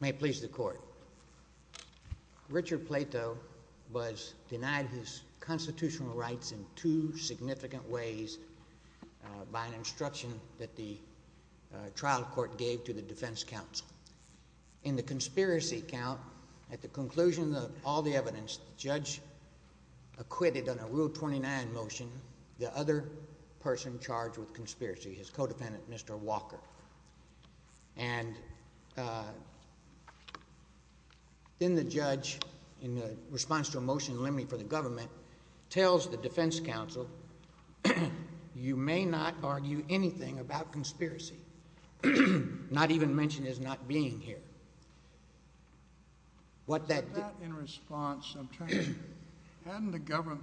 May it please the court. Richard Plato was denied his constitutional rights in two significant ways by an instruction that the trial court gave to the defense counsel. In the conspiracy count, at the conclusion of all the evidence, the judge acquitted on a rule 29 motion the other person charged with conspiracy, his co-defendant, Mr. Walker. And then the judge, in response to a motion in limine for the government, tells the defense counsel, you may not argue anything about conspiracy, not even mention it as not being here. What that... In response, hadn't the government,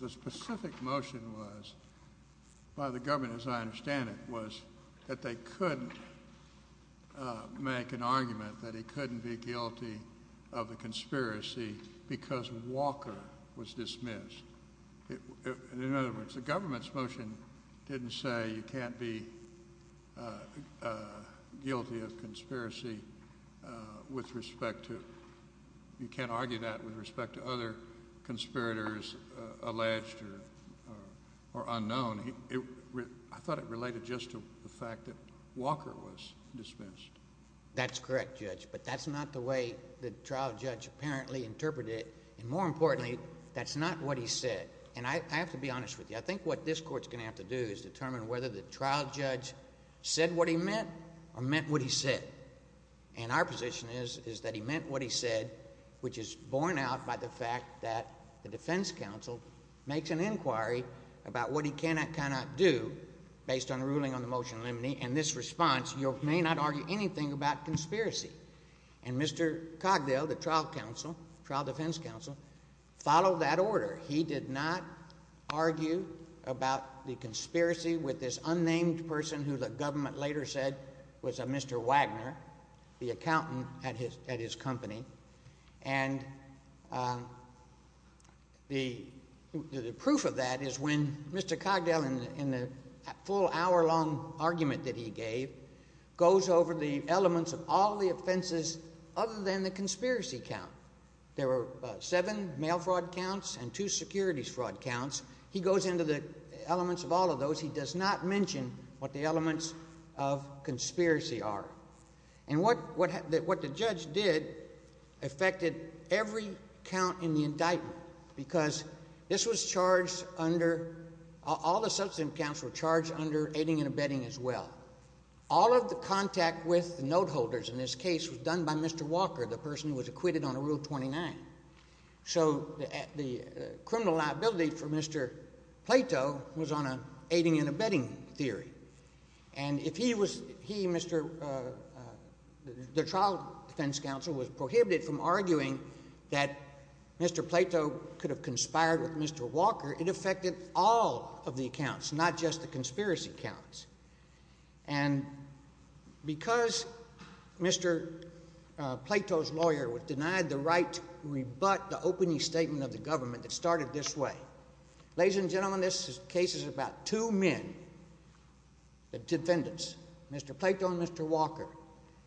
the specific motion was, by the government as I understand it, was that they couldn't make an argument that he couldn't be guilty of a conspiracy because Walker was dismissed. In other words, the government's motion didn't say you can't be guilty of conspiracy with respect to... You can't argue that with respect to other conspirators alleged or unknown. I thought it related just to the fact that Walker was dismissed. That's correct, Judge, but that's not the way the trial judge apparently interpreted it, and more importantly, that's not what he said. And I have to be honest with you. I think what this court's going to have to do is determine whether the trial judge said what he meant or meant what he said. And our position is that he meant what he said, which is borne out by the fact that the defense counsel makes an inquiry about what he can and cannot do based on a ruling on the motion in limine, and this response, you may not argue anything about conspiracy. And Mr. Cogdell, the trial defense counsel, followed that order. He did not argue about the conspiracy with this company, and the proof of that is when Mr. Cogdell, in the full hour-long argument that he gave, goes over the elements of all the offenses other than the conspiracy count. There were seven mail fraud counts and two securities fraud counts. He goes into the affected every count in the indictment because this was charged under—all the substantive counts were charged under aiding and abetting as well. All of the contact with the note holders in this case was done by Mr. Walker, the person who was acquitted under Rule 29. So the criminal liability for Mr. Plato was on an aiding and abetting theory. And if he was—he, Mr.—the trial defense counsel was prohibited from arguing that Mr. Plato could have conspired with Mr. Walker, it affected all of the accounts, not just the conspiracy counts. And because Mr. Plato's lawyer was denied the right to rebut the opening statement of the government that started this way, Ladies and gentlemen, this case is about two men, the defendants, Mr. Plato and Mr. Walker,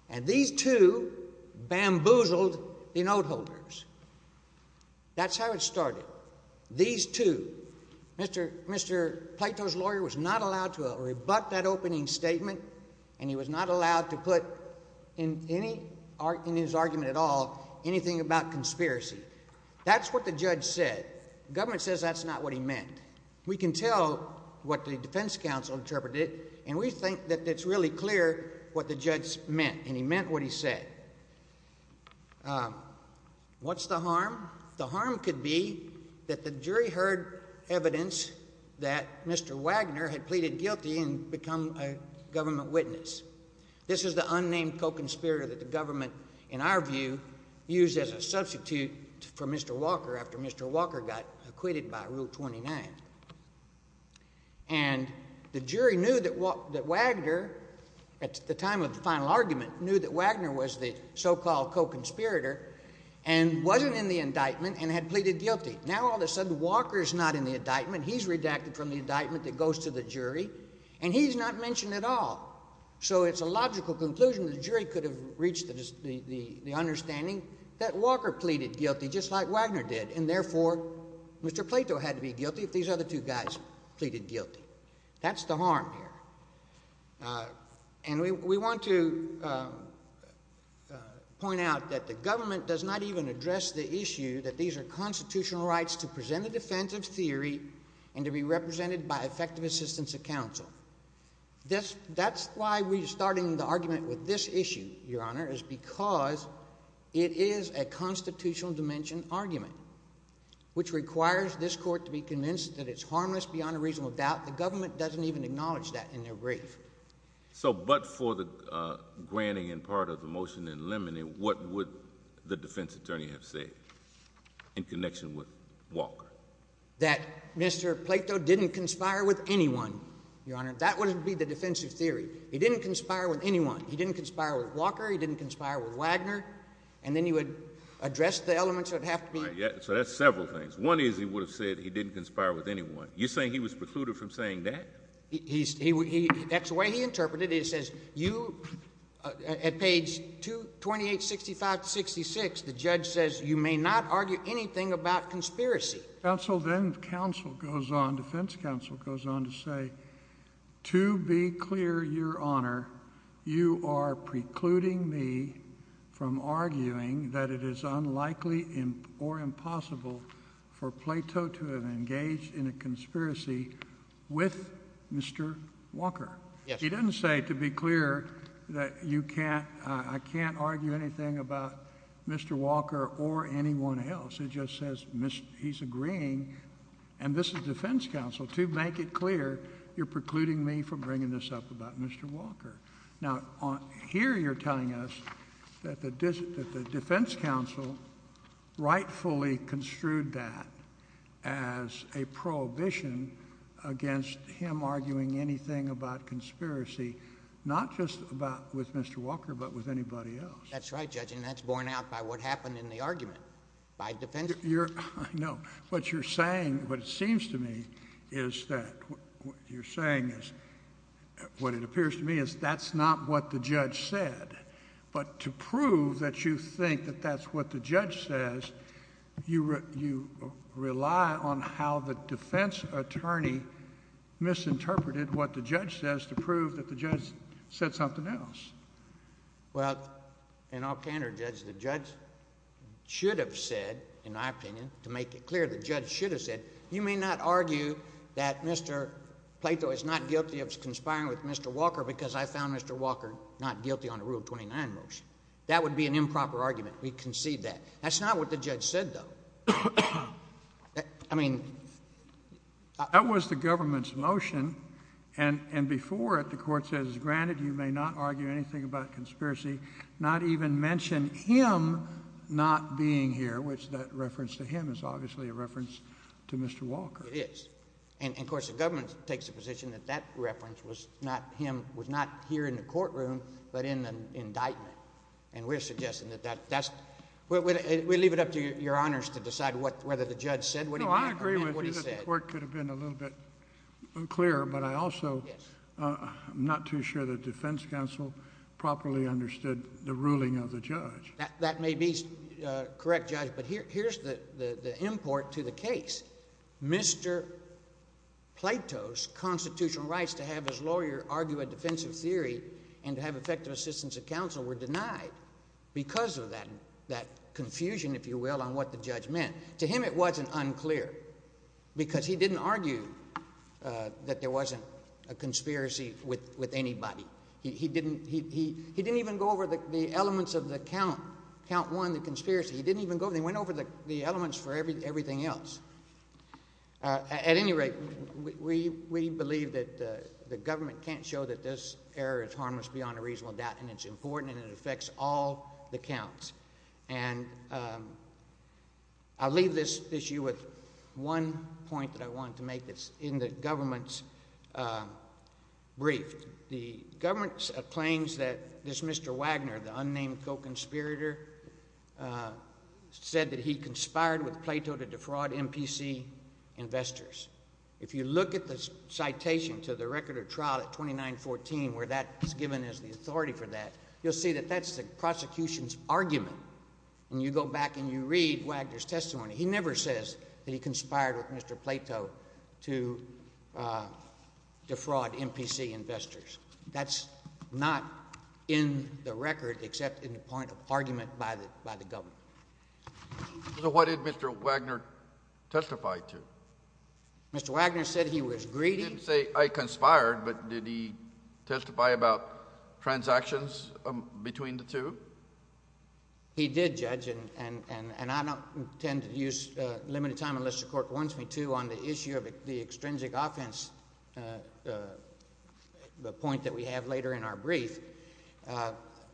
and these two bamboozled the note holders. That's how it started. These two. Mr. Plato's lawyer was not allowed to rebut that opening statement, and he was not allowed to put in any—in his We can tell what the defense counsel interpreted, and we think that it's really clear what the judge meant, and he meant what he said. What's the harm? The harm could be that the jury heard evidence that Mr. Wagner had pleaded guilty and become a government witness. This is the unnamed co-conspirator that the government, in our view, used as a substitute for Mr. Walker after Mr. Walker got acquitted by Rule 29. And the jury knew that Wagner, at the time of the final argument, knew that Wagner was the so-called co-conspirator and wasn't in the indictment and had pleaded guilty. Now all of a sudden, Walker's not in the indictment. He's redacted from the indictment that goes to the jury, and he's not mentioned at all. So it's a logical conclusion that the jury could have reached the understanding that Walker pleaded guilty just like Wagner did, and therefore Mr. Plato had to be guilty if these other two guys pleaded guilty. That's the harm here. And we want to point out that the government does not even address the issue that these are constitutional rights to present a defense of theory and to be represented by effective assistance of counsel. That's why we're starting the argument with this issue, Your Honor, is because it is a constitutional dimension argument, which requires this court to be convinced that it's harmless beyond a reasonable doubt. The government doesn't even acknowledge that in their brief. So but for the granting and part of the motion in limine, what would the defense attorney have said in connection with Walker? That Mr. Plato didn't conspire with anyone, Your Honor. That would be the defense of theory. He didn't conspire with anyone. He didn't conspire with Walker. He didn't conspire with Wagner. And then he would address the elements that have to be. So that's several things. One is he would have said he didn't conspire with anyone. You're saying he was precluded from saying that? That's the way he interpreted it. It says you at page 228, 65, 66, the judge says you may not argue anything about conspiracy. Then counsel goes on, defense counsel goes on to say, to be clear, Your Honor, you are precluding me from arguing that it is unlikely or impossible for Plato to have engaged in a conspiracy with Mr. Walker. He didn't say to be clear that you can't, I can't argue anything about Mr. Walker or anyone else. It just says he's agreeing, and this is defense counsel, to make it clear, you're precluding me from bringing this up about Mr. Walker. Now, here you're telling us that the defense counsel rightfully construed that as a prohibition against him arguing anything about conspiracy, not just about with Mr. Walker, but with anybody else. That's right, Judge, and that's borne out by what happened in the argument by defense counsel. Your... I know. What you're saying, what it seems to me is that, what you're saying is, what it appears to me is that's not what the judge said, but to prove that you think that that's what the judge says, you rely on how the defense attorney misinterpreted what the judge says to prove that the judge said something else. Well, in all candor, Judge, the judge should have said, in my opinion, to make it clear, the judge should have said, you may not argue that Mr. Plato is not guilty of conspiring with Mr. Walker because I found Mr. Walker not guilty on the Rule 29 motion. That would be an improper argument. We concede that. That's not what the judge said, though. I mean... That was the government's motion, and before it, the court says, granted you may not argue anything about conspiracy, not even mention him not being here, which that reference to him is obviously a reference to Mr. Walker. It is, and, of course, the government takes the position that that reference was not him, was not here in the courtroom, but in an indictment, and we're suggesting that that's... We leave it up to your honors to decide what, whether the judge said what he meant... No, I agree with you that the court could have been a little bit clearer, but I also... Yes. I'm not too sure the defense counsel properly understood the ruling of the judge. That may be correct, Judge, but here's the import to the case. Mr. Plato's constitutional rights to have his lawyer argue a defensive theory and to have effective assistance of counsel were denied because of that confusion, if you will, on what the judge meant. To him, it wasn't unclear because he didn't argue that there wasn't a conspiracy with anybody. He didn't even go over the elements of the count, count one, the conspiracy. He didn't even go... They went over the elements for everything else. At any rate, we believe that the government can't show that this error is harmless beyond a reasonable doubt, and it's important, and it affects all the counts. And I'll leave this issue with one point that I wanted to make that's in the government's brief. The government claims that this Mr. Wagner, the unnamed co-conspirator, said that he conspired with Plato to defraud MPC investors. If you look at the citation to the record of trial at 2914 where that is given as the argument, and you go back and you read Wagner's testimony, he never says that he conspired with Mr. Plato to defraud MPC investors. That's not in the record except in the point of argument by the government. So what did Mr. Wagner testify to? Mr. Wagner said he was greedy. He didn't say, I conspired, but did he testify about transactions between the two? He did judge, and I don't intend to use limited time unless the court wants me to on the issue of the extrinsic offense point that we have later in our brief,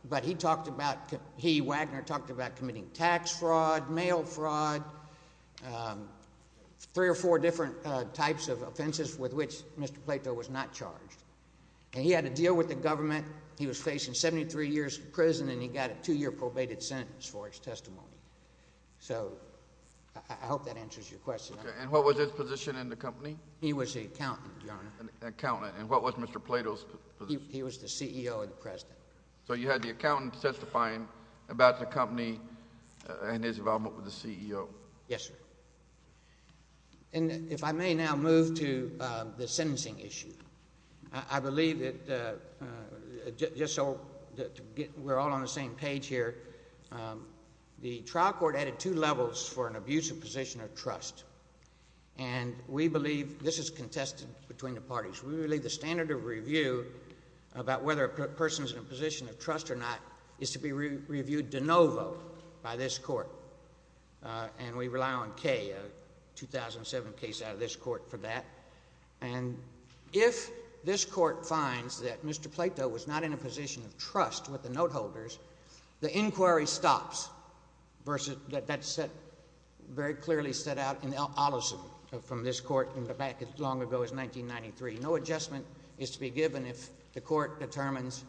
but he talked about, he, Wagner, talked about committing tax fraud, mail fraud, three or four different types of offenses with which Mr. Plato was not charged. And he had to deal with the government. He was facing 73 years in prison, and he got a two-year probated sentence for his testimony. So I hope that answers your question. And what was his position in the company? He was the accountant, Your Honor. Accountant. And what was Mr. Plato's position? He was the CEO and the president. So you had the accountant testifying about the company and his involvement with the CEO. Yes, sir. And if I may now move to the sentencing issue, I believe that just so that we're all on the same page here, the trial court added two levels for an abusive position of trust, and we believe this is contested between the parties. We believe the standard of review about whether a person's in a position of trust or not is to be reviewed de novo by this court, and we rely on case. A 2007 case out of this court for that. And if this court finds that Mr. Plato was not in a position of trust with the note holders, the inquiry stops. Versus that that set very clearly set out in Allison from this court in the back as long ago as 1993. No adjustment is to be given if the court determines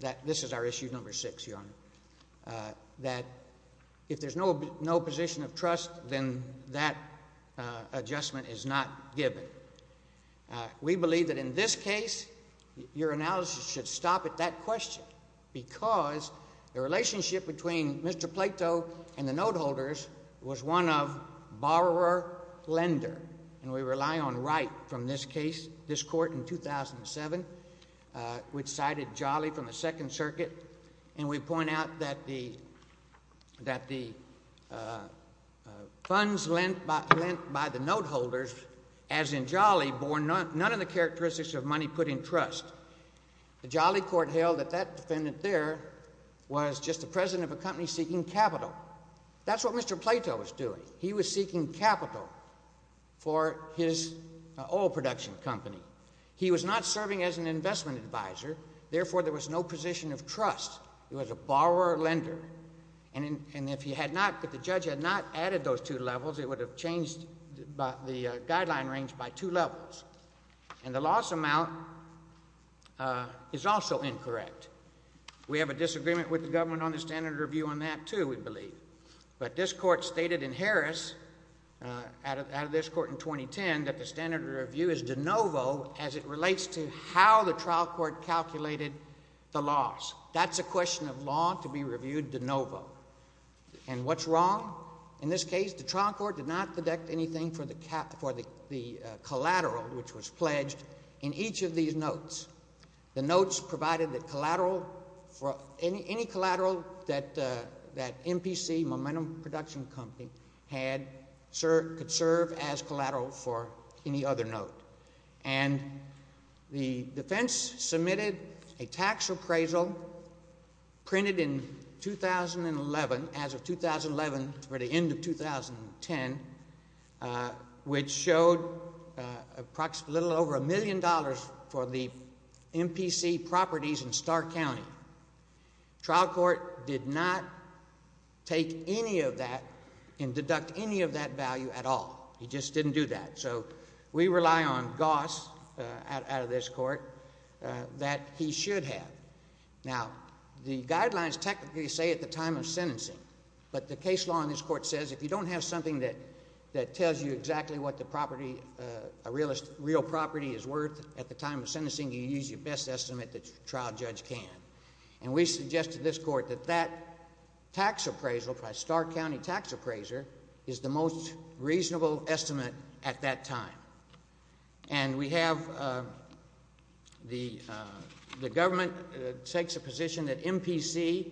that this is our issue number six, Your Honor, that if there's no position of trust, then that adjustment is not given. We believe that in this case, your analysis should stop at that question, because the relationship between Mr. Plato and the note holders was one of borrower-lender, and we rely on Wright from this case, this court in 2007, which cited Jolly from the Second Circuit, and we point out that the funds lent by the note holders, as in Jolly, bore none of the characteristics of money put in trust. The Jolly court held that that defendant there was just the president of a company seeking capital. That's what Mr. Plato was doing. He was seeking capital for his oil production company. He was not serving as an investment advisor. Therefore, there was no position of trust. He was a borrower-lender. And if he had not, if the judge had not added those two levels, it would have changed the guideline range by two levels. And the loss amount is also incorrect. We have a disagreement with the government on the standard review on that, too, we believe. But this court stated in Harris, out of this court in 2010, that the standard review is as it relates to how the trial court calculated the loss. That's a question of law to be reviewed de novo. And what's wrong? In this case, the trial court did not deduct anything for the collateral which was pledged in each of these notes. The notes provided that collateral, any collateral that MPC, Momentum Production Company, could serve as collateral for any other note. And the defense submitted a tax appraisal printed in 2011, as of 2011, for the end of 2010, which showed a little over a million dollars for the MPC properties in Stark County. Trial court did not take any of that and deduct any of that value at all. It just didn't do that. So we rely on Goss, out of this court, that he should have. Now, the guidelines technically say at the time of sentencing, but the case law in this court says if you don't have something that tells you exactly what the property, a real property is worth at the time of sentencing, you use your best estimate that your trial judge can. And we suggest to this court that that tax appraisal by Stark County tax appraiser is the most reasonable estimate at that time. And we have the government takes a position that MPC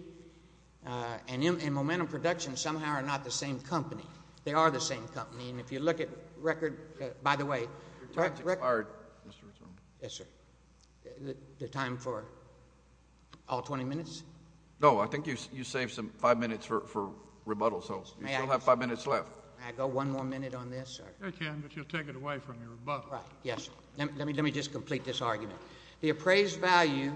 and Momentum Production somehow are not the same company. They are the same company. And if you look at record, by the way, the time for all 20 minutes. No, I think you saved some five minutes for rebuttal. So you still have five minutes left. May I go one more minute on this, sir? You can, but you'll take it away from your rebuttal. Right, yes. Let me just complete this argument. The appraised value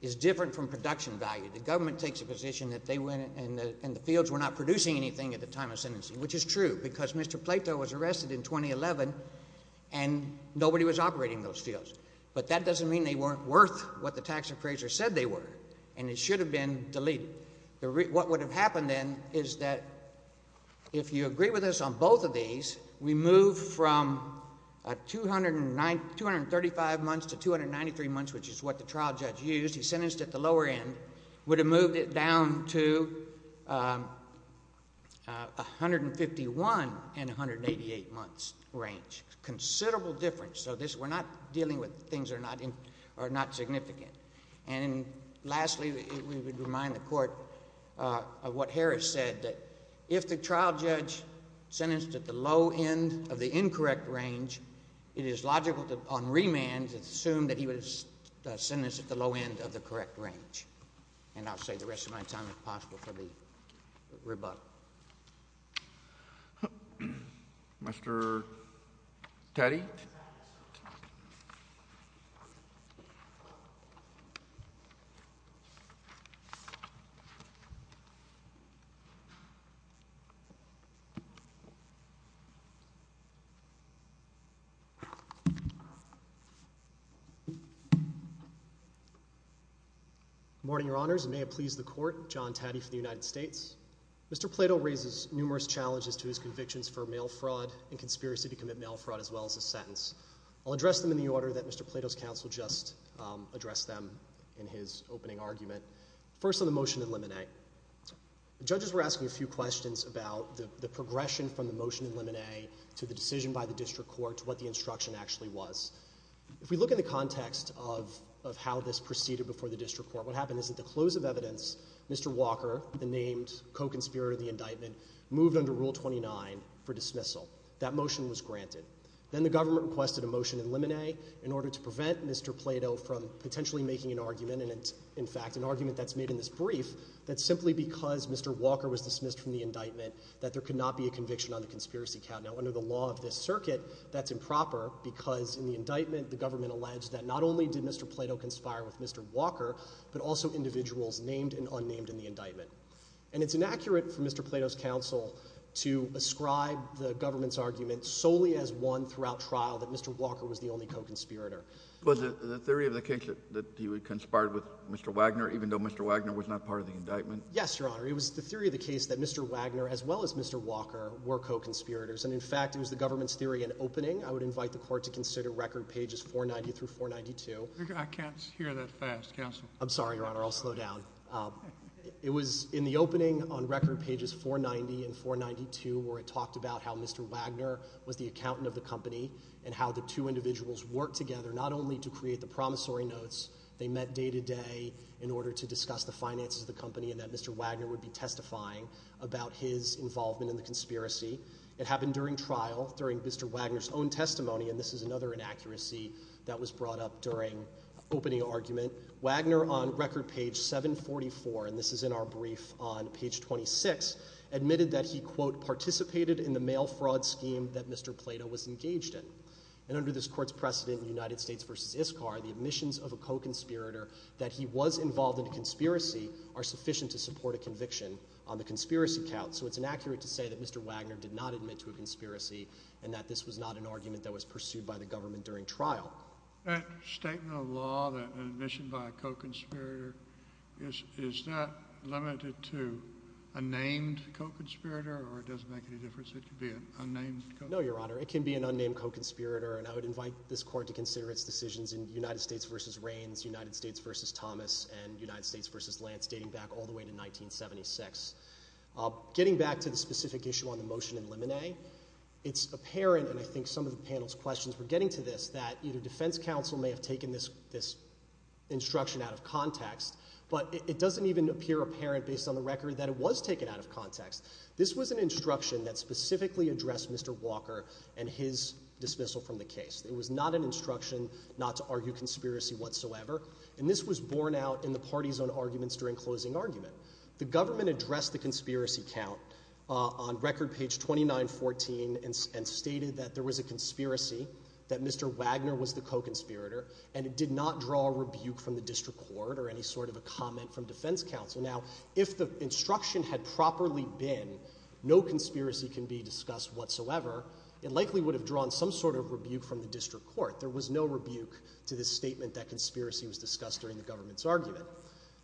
is different from production value. The government takes a position that they went and the fields were not producing anything at the time of sentencing, which is true because Mr. Plato was arrested in 2011 and nobody was operating those fields. But that doesn't mean they weren't worth what the tax appraiser said they were. And it should have been deleted. What would have happened then is that if you agree with us on both of these, we move from 235 months to 293 months, which is what the trial judge used, he sentenced at the lower end, would have moved it down to 151 and 188 months range. Considerable difference. So we're not dealing with things that are not significant. And lastly, we would remind the court of what Harris said, that if the trial judge sentenced at the low end of the incorrect range, it is logical on remand to assume that he was sentenced at the low end of the correct range. And I'll save the rest of my time if possible for the rebuttal. Mr. Teddy? Good morning, Your Honors, and may it please the court. John Taddy from the United States. Mr. Plato raises numerous challenges to his convictions for mail fraud and conspiracy to commit mail fraud, as well as a sentence. I'll address them in the order that Mr. Plato's counsel just addressed them in his opening argument. First, on the motion in Lemonet, the judges were asking a few questions about the progression from the motion in Lemonet to the decision by the district court to what the instruction actually was. If we look in the context of how this proceeded before the district court, what happened is that the close of evidence, Mr. Walker, the named co-conspirator of the indictment, moved under Rule 29 for dismissal. That motion was granted. Then the government requested a motion in Lemonet in order to prevent Mr. Plato from potentially making an argument. And it's, in fact, an argument that's made in this brief that simply because Mr. Walker was dismissed from the indictment that there could not be a conviction on the conspiracy count. Now, under the law of this circuit, that's improper because in the indictment, the government alleged that not only did Mr. Plato conspire with Mr. Walker, but also individuals named and unnamed in the indictment. And it's inaccurate for Mr. Plato's counsel to ascribe the government's argument solely as one throughout trial that Mr. Walker was the only co-conspirator. Was it the theory of the case that he conspired with Mr. Wagner, even though Mr. Wagner was not part of the indictment? Yes, Your Honor. It was the theory of the case that Mr. Wagner, as well as Mr. Walker, were co-conspirators. And, in fact, it was the government's theory in opening. I would invite the court to consider record pages 490 through 492. I can't hear that fast, counsel. I'm sorry, Your Honor. I'll slow down. It was in the opening on record pages 490 and 492 where it talked about how Mr. Wagner was the accountant of the company and how the two individuals worked together not only to create the promissory notes. They met day to day in order to discuss the finances of the company and that Mr. Wagner would be testifying about his involvement in the conspiracy. It happened during trial, during Mr. Wagner's own testimony. And this is another inaccuracy that was brought up during opening argument. Wagner, on record page 744, and this is in our brief on page 26, admitted that he, quote, in the mail fraud scheme that Mr. Plato was engaged in. And under this court's precedent in United States v. ISCAR, the admissions of a co-conspirator that he was involved in a conspiracy are sufficient to support a conviction on the conspiracy count. So it's inaccurate to say that Mr. Wagner did not admit to a conspiracy and that this was not an argument that was pursued by the government during trial. That statement of law, that admission by a co-conspirator, is that limited to a named co-conspirator or it doesn't make any difference? It could be an unnamed co-conspirator? No, Your Honor. It can be an unnamed co-conspirator. And I would invite this court to consider its decisions in United States v. Rains, United States v. Thomas, and United States v. Lance, dating back all the way to 1976. Getting back to the specific issue on the motion in Lemonet, it's apparent, and I think some of the panel's questions were getting to this, that either defense counsel may have taken this instruction out of context, but it doesn't even appear apparent based on the context. This was an instruction that specifically addressed Mr. Walker and his dismissal from the case. It was not an instruction not to argue conspiracy whatsoever, and this was borne out in the parties on arguments during closing argument. The government addressed the conspiracy count on record page 2914 and stated that there was a conspiracy, that Mr. Wagner was the co-conspirator, and it did not draw a rebuke from the district court or any sort of a comment from defense counsel. Now, if the instruction had properly been no conspiracy can be discussed whatsoever, it likely would have drawn some sort of rebuke from the district court. There was no rebuke to this statement that conspiracy was discussed during the government's argument.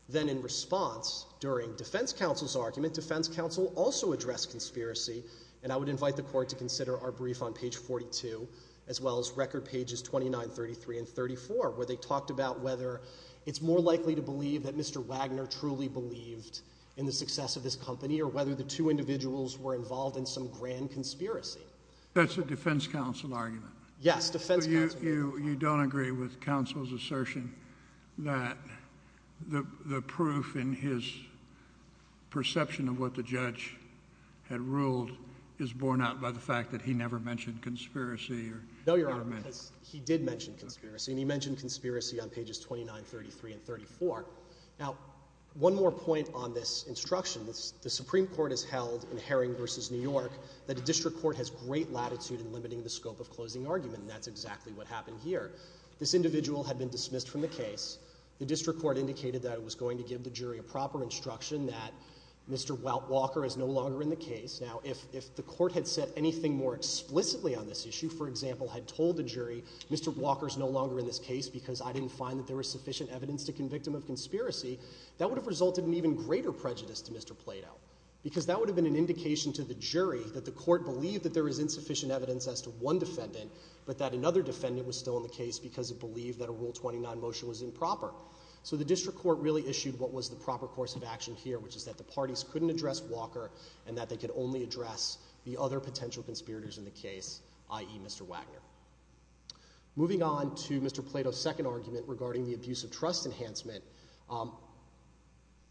Then in response, during defense counsel's argument, defense counsel also addressed conspiracy, and I would invite the court to consider our brief on page 42, as well as record pages 2933 and 34, where they talked about whether it's more likely to believe that Mr. Wagner truly believed in the success of this company or whether the two individuals were involved in some grand conspiracy. That's a defense counsel argument? Yes, defense counsel argument. You don't agree with counsel's assertion that the proof in his perception of what the judge had ruled is borne out by the fact that he never mentioned conspiracy? No, Your Honor, because he did mention conspiracy, and he mentioned conspiracy on pages 2933 and 34. Now, one more point on this instruction. The Supreme Court has held in Herring v. New York that a district court has great latitude in limiting the scope of closing argument, and that's exactly what happened here. This individual had been dismissed from the case. The district court indicated that it was going to give the jury a proper instruction that Mr. Walker is no longer in the case. Now, if the court had said anything more explicitly on this issue, for example, had told the jury Mr. Walker is no longer in this case because I didn't find that there was sufficient evidence to convict him of conspiracy, that would have resulted in even greater prejudice to Mr. Plato, because that would have been an indication to the jury that the court believed that there was insufficient evidence as to one defendant, but that another defendant was still in the case because it believed that a Rule 29 motion was improper. So the district court really issued what was the proper course of action here, which is that the parties couldn't address Walker and that they could only address the other potential conspirators in the case, i.e. Mr. Wagner. Moving on to Mr. Plato's second argument regarding the abuse of trust enhancement,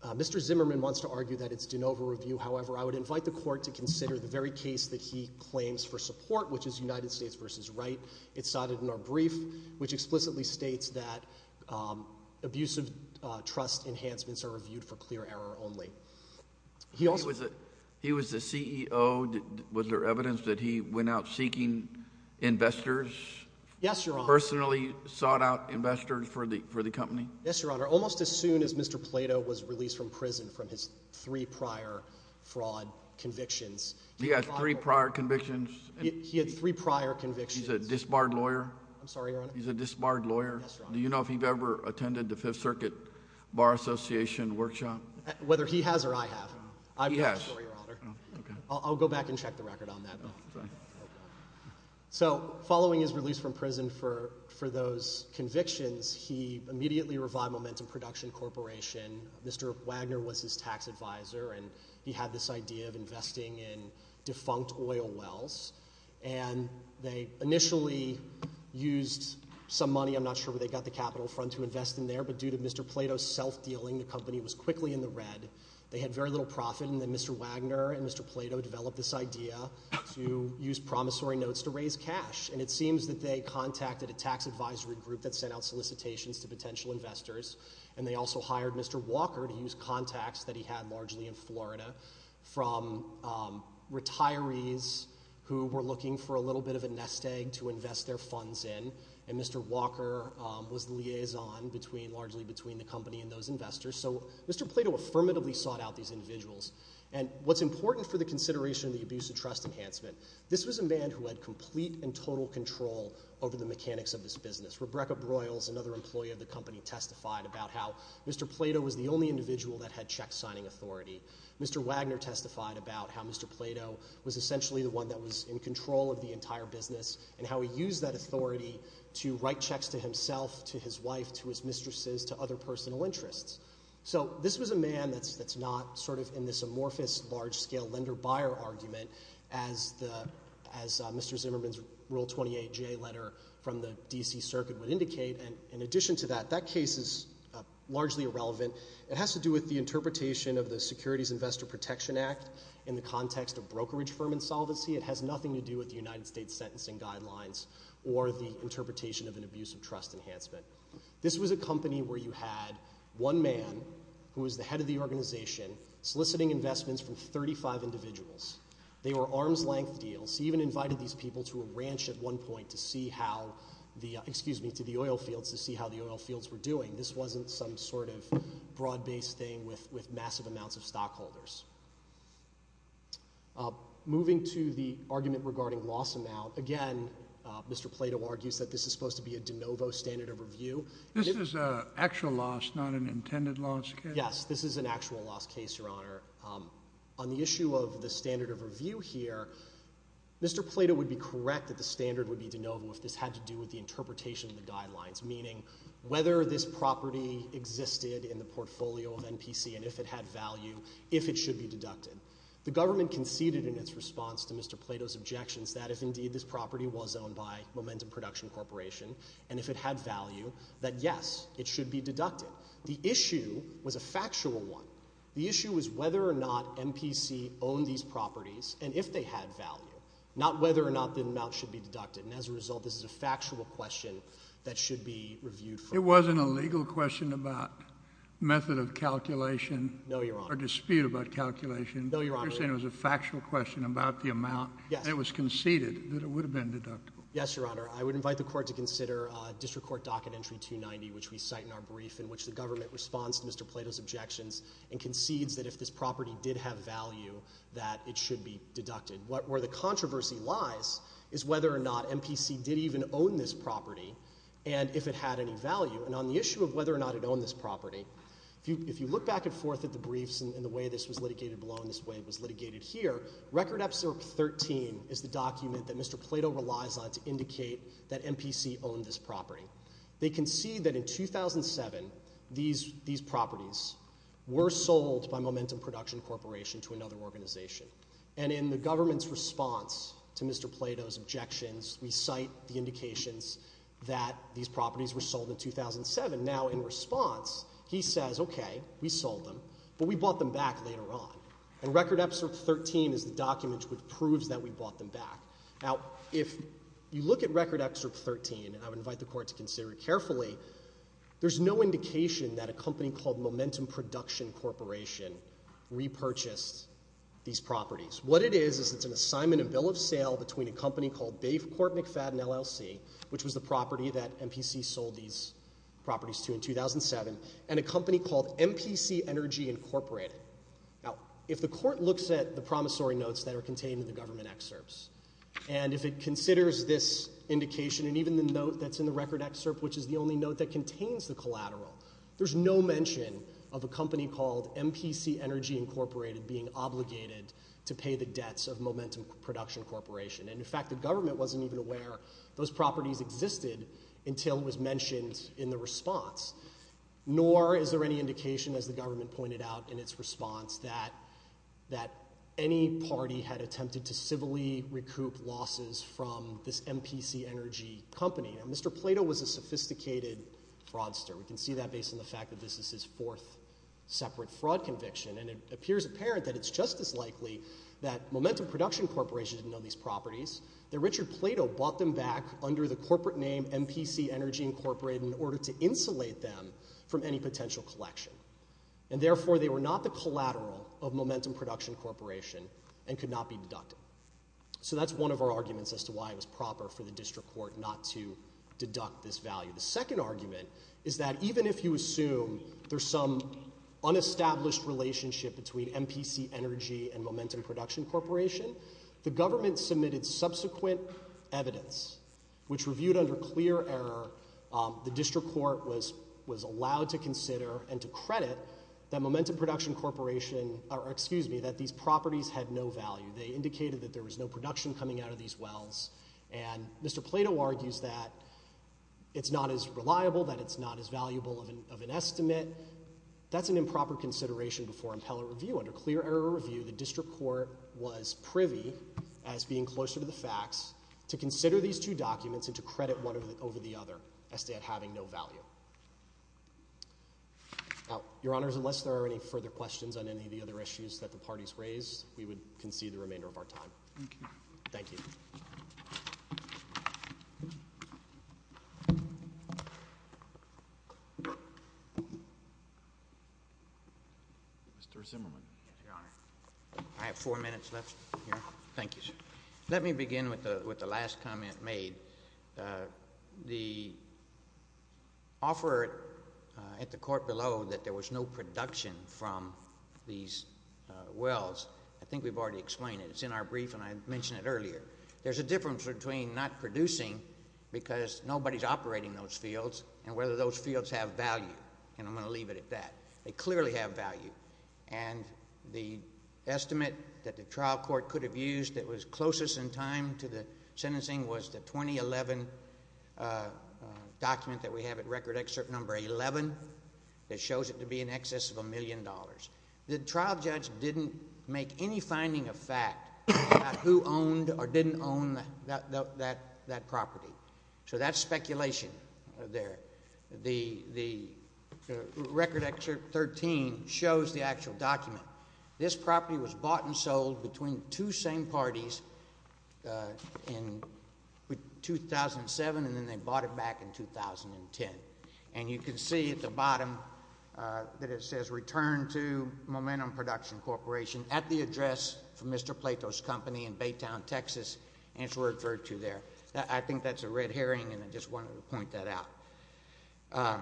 Mr. Zimmerman wants to argue that it's de novo review. However, I would invite the court to consider the very case that he claims for support, which is United States v. Wright. It's cited in our brief, which explicitly states that abuse of trust enhancements are reviewed for clear error only. He was the CEO. Was there evidence that he went out seeking investors? Yes, Your Honor. Personally sought out investors for the company? Yes, Your Honor. Almost as soon as Mr. Plato was released from prison from his three prior fraud convictions. He had three prior convictions? He had three prior convictions. He's a disbarred lawyer? I'm sorry, Your Honor. He's a disbarred lawyer? Yes, Your Honor. Do you know if he's ever attended the Fifth Circuit Bar Association workshop? Whether he has or I have. He has. I'll go back and check the record on that. So following his release from prison for those convictions, he immediately revived Momentum Production Corporation. Mr. Wagner was his tax advisor, and he had this idea of investing in defunct oil wells. And they initially used some money. I'm not sure where they got the capital fund to invest in there, but due to Mr. Plato's self-dealing, the company was quickly in the red. They had very little profit. And then Mr. Wagner and Mr. Plato developed this idea to use promissory notes to raise cash. And it seems that they contacted a tax advisory group that sent out solicitations to potential investors, and they also hired Mr. Walker to use contacts that he had largely in Florida from retirees who were looking for a little bit of a nest egg to invest their funds in. And Mr. Walker was the liaison largely between the company and those investors. So Mr. Plato affirmatively sought out these individuals. And what's important for the consideration of the abuse of trust enhancement, this was a man who had complete and total control over the mechanics of this business. Rebecca Broyles, another employee of the company, testified about how Mr. Plato was the only individual that had check signing authority. Mr. Wagner testified about how Mr. Plato was essentially the one that was in control of the entire business and how he used that authority to write checks to himself, to his wife, to his mistresses, to other personal interests. So this was a man that's not sort of in this amorphous, large-scale lender-buyer argument as Mr. Zimmerman's Rule 28J letter from the D.C. Circuit would indicate. And in addition to that, that case is largely irrelevant. It has to do with the interpretation of the Securities Investor Protection Act in the context of brokerage firm insolvency. It has nothing to do with the United States Sentencing Guidelines or the interpretation of an abuse of trust enhancement. This was a company where you had one man who was the head of the organization soliciting investments from 35 individuals. They were arm's-length deals. He even invited these people to a ranch at one point to see how the, excuse me, to the oil fields, to see how the oil fields were doing. This wasn't some sort of broad-based thing with massive amounts of stockholders. Moving to the argument regarding loss amount, again, Mr. Plato argues that this is supposed to be a de novo standard of review. This is an actual loss, not an intended loss case? Yes, this is an actual loss case, Your Honor. On the issue of the standard of review here, Mr. Plato would be correct that the standard would be de novo if this had to do with the interpretation of the guidelines, meaning whether this property existed in the portfolio of NPC and if it had value, if it should be deducted. The government conceded in its response to Mr. Plato's objections that if indeed this property was owned by Momentum Production Corporation and if it had value, that yes, it should be deducted. The issue was a factual one. The issue was whether or not NPC owned these properties and if they had value, not whether or not the amount should be deducted. And as a result, this is a factual question that should be reviewed. It wasn't a legal question about method of calculation? No, Your Honor. A dispute about calculation? No, Your Honor. You're saying it was a factual question about the amount? Yes. And it was conceded that it would have been deductible? Yes, Your Honor. I would invite the Court to consider District Court Docket Entry 290, which we cite in our brief in which the government responds to Mr. Plato's objections and concedes that if this property did have value, that it should be deducted. Where the controversy lies is whether or not NPC did even own this property and if it had any value. And on the issue of whether or not it owned this property, if you look back and forth at the briefs and the way this was litigated below and this way it was litigated here, Record Episode 13 is the document that Mr. Plato relies on to indicate that NPC owned this property. They concede that in 2007, these properties were sold by Momentum Production Corporation to another organization. And in the government's response to Mr. Plato's objections, we cite the indications that these properties were sold in 2007. Now, in response, he says, okay, we sold them, but we bought them back later on. And Record Episode 13 is the document which proves that we bought them back. Now, if you look at Record Episode 13, and I would invite the Court to consider it carefully, there's no indication that a company called Momentum Production Corporation repurchased these properties. What it is, is it's an assignment and bill of sale between a company called in 2007, and a company called NPC Energy Incorporated. Now, if the Court looks at the promissory notes that are contained in the government excerpts, and if it considers this indication, and even the note that's in the record excerpt, which is the only note that contains the collateral, there's no mention of a company called NPC Energy Incorporated being obligated to pay the debts of Momentum Production Corporation. And in fact, the government wasn't even aware those properties existed until it was mentioned in the response. Nor is there any indication, as the government pointed out in its response, that any party had attempted to civilly recoup losses from this NPC Energy company. Now, Mr. Plato was a sophisticated fraudster. We can see that based on the fact that this is his fourth separate fraud conviction. And it appears apparent that it's just as likely that Momentum Production Corporation didn't know these properties, that Richard Plato bought them back under the corporate name NPC Energy Incorporated in order to insulate them from any potential collection. And therefore, they were not the collateral of Momentum Production Corporation and could not be deducted. So that's one of our arguments as to why it was proper for the District Court not to deduct this value. The second argument is that even if you assume there's some unestablished relationship between NPC Energy and Momentum Production Corporation, the government submitted subsequent evidence which reviewed under clear error the District Court was allowed to consider and to credit that Momentum Production Corporation, or excuse me, that these properties had no value. They indicated that there was no production coming out of these wells. And Mr. Plato argues that it's not as reliable, that it's not as valuable of an estimate. That's an improper consideration before impeller review. Under clear error review, the District Court was privy as being closer to the facts to consider these two documents and to credit one over the other, as to it having no value. Now, Your Honors, unless there are any further questions on any of the other issues that the parties raised, we would concede the remainder of our time. Thank you. Thank you. Mr. Zimmerman. Yes, Your Honor. I have four minutes left here. Thank you, sir. Let me begin with the last comment made. The offer at the court below that there was no production from these wells, I think we've already explained it. It's in our brief, and I mentioned it earlier. There's a difference between not producing, because nobody's operating those fields, and whether those fields have value. And I'm going to leave it at that. They clearly have value. And the estimate that the trial court could have used that was closest in time to the sentencing was the 2011 document that we have at Record Excerpt Number 11 that shows it to be in excess of a million dollars. The trial judge didn't make any finding of fact about who owned or didn't own that property. So that's speculation there. The Record Excerpt 13 shows the actual document. This property was bought and sold between two same parties in 2007, and then they bought it back in 2010. And you can see at the bottom that it says, returned to Momentum Production Corporation at the address from Mr. Plato's company in Baytown, Texas, and it's referred to there. I think that's a red herring, and I just wanted to point that out.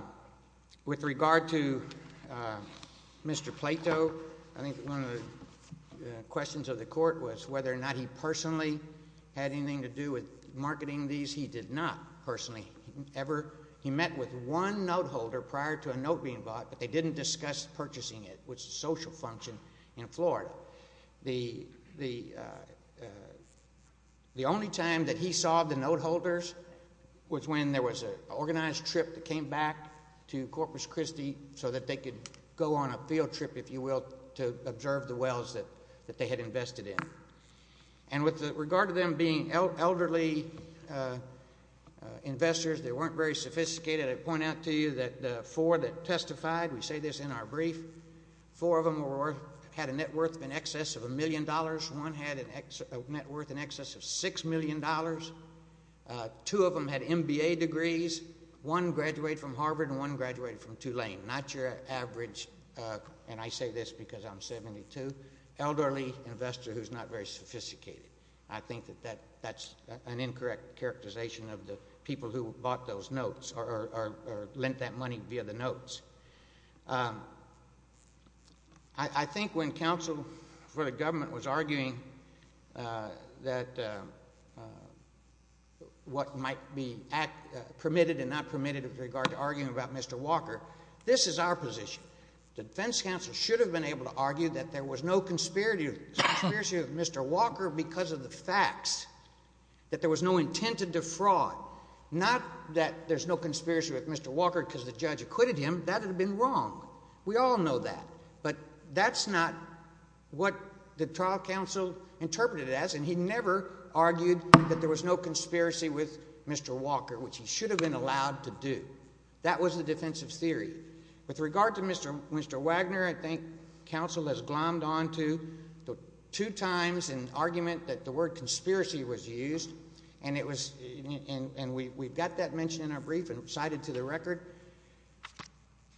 With regard to Mr. Plato, I think one of the questions of the court was whether or not he personally had anything to do with marketing these. He did not personally ever. He met with one note holder prior to a note being bought, but they didn't discuss purchasing it, which is a social function in Florida. The only time that he saw the note holders was when there was an organized trip that came back to Corpus Christi so that they could go on a field trip, if you will, to observe the wells that they had invested in. And with regard to them being elderly investors, they weren't very sophisticated. I point out to you that the four that testified, we say this in our brief, four of them had a net worth in excess of a million dollars, one had a net worth in excess of six million dollars, two of them had MBA degrees, one graduated from Harvard and one graduated from Tulane. Not your average, and I say this because I'm 72, elderly investor who's not very sophisticated. I think that that's an incorrect characterization of the people who bought those notes or lent that money via the notes. I think when counsel for the government was arguing that what might be permitted and not permitted with regard to arguing about Mr. Walker, this is our position. The defense counsel should have been able to argue that there was no conspiracy of Mr. Walker because of the facts that there was no intent to defraud. Not that there's no conspiracy with Mr. Walker because the judge acquitted him. That would have been wrong. We all know that, but that's not what the trial counsel interpreted as, and he never argued that there was no conspiracy with Mr. Walker, which he should have been allowed to do. That was the defensive theory. With regard to Mr. Wagner, I think counsel has glommed onto the two times an argument that the word conspiracy was used, and we've got that mentioned in our brief and cited to the record.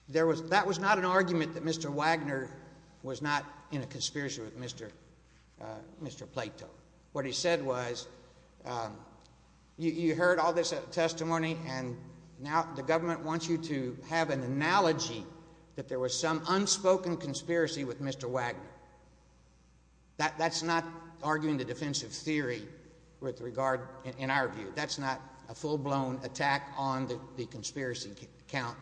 That was not an argument that Mr. Wagner was not in a conspiracy with Mr. Plato. What he said was, you heard all this testimony, and now the government wants you to have an analogy that there was some unspoken conspiracy with Mr. Wagner. That's not arguing the defensive theory with regard, in our view, that's not a full-blown attack on the conspiracy account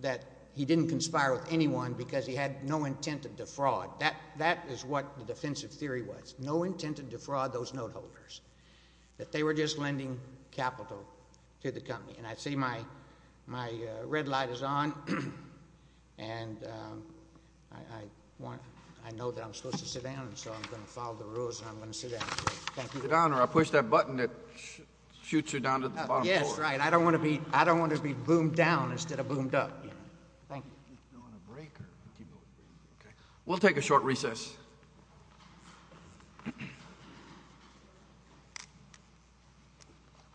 that he didn't conspire with anyone because he had no intent to defraud. That is what the defensive theory was. No intent to defraud those note holders, that they were just lending capital to the company. I see my red light is on, and I know that I'm supposed to sit down, and so I'm going to follow the rules, and I'm going to sit down. Thank you. Sit down, or I'll push that button that shoots you down to the bottom floor. Yes, right. I don't want to be boomed down instead of boomed up. Thank you. We'll take a short recess.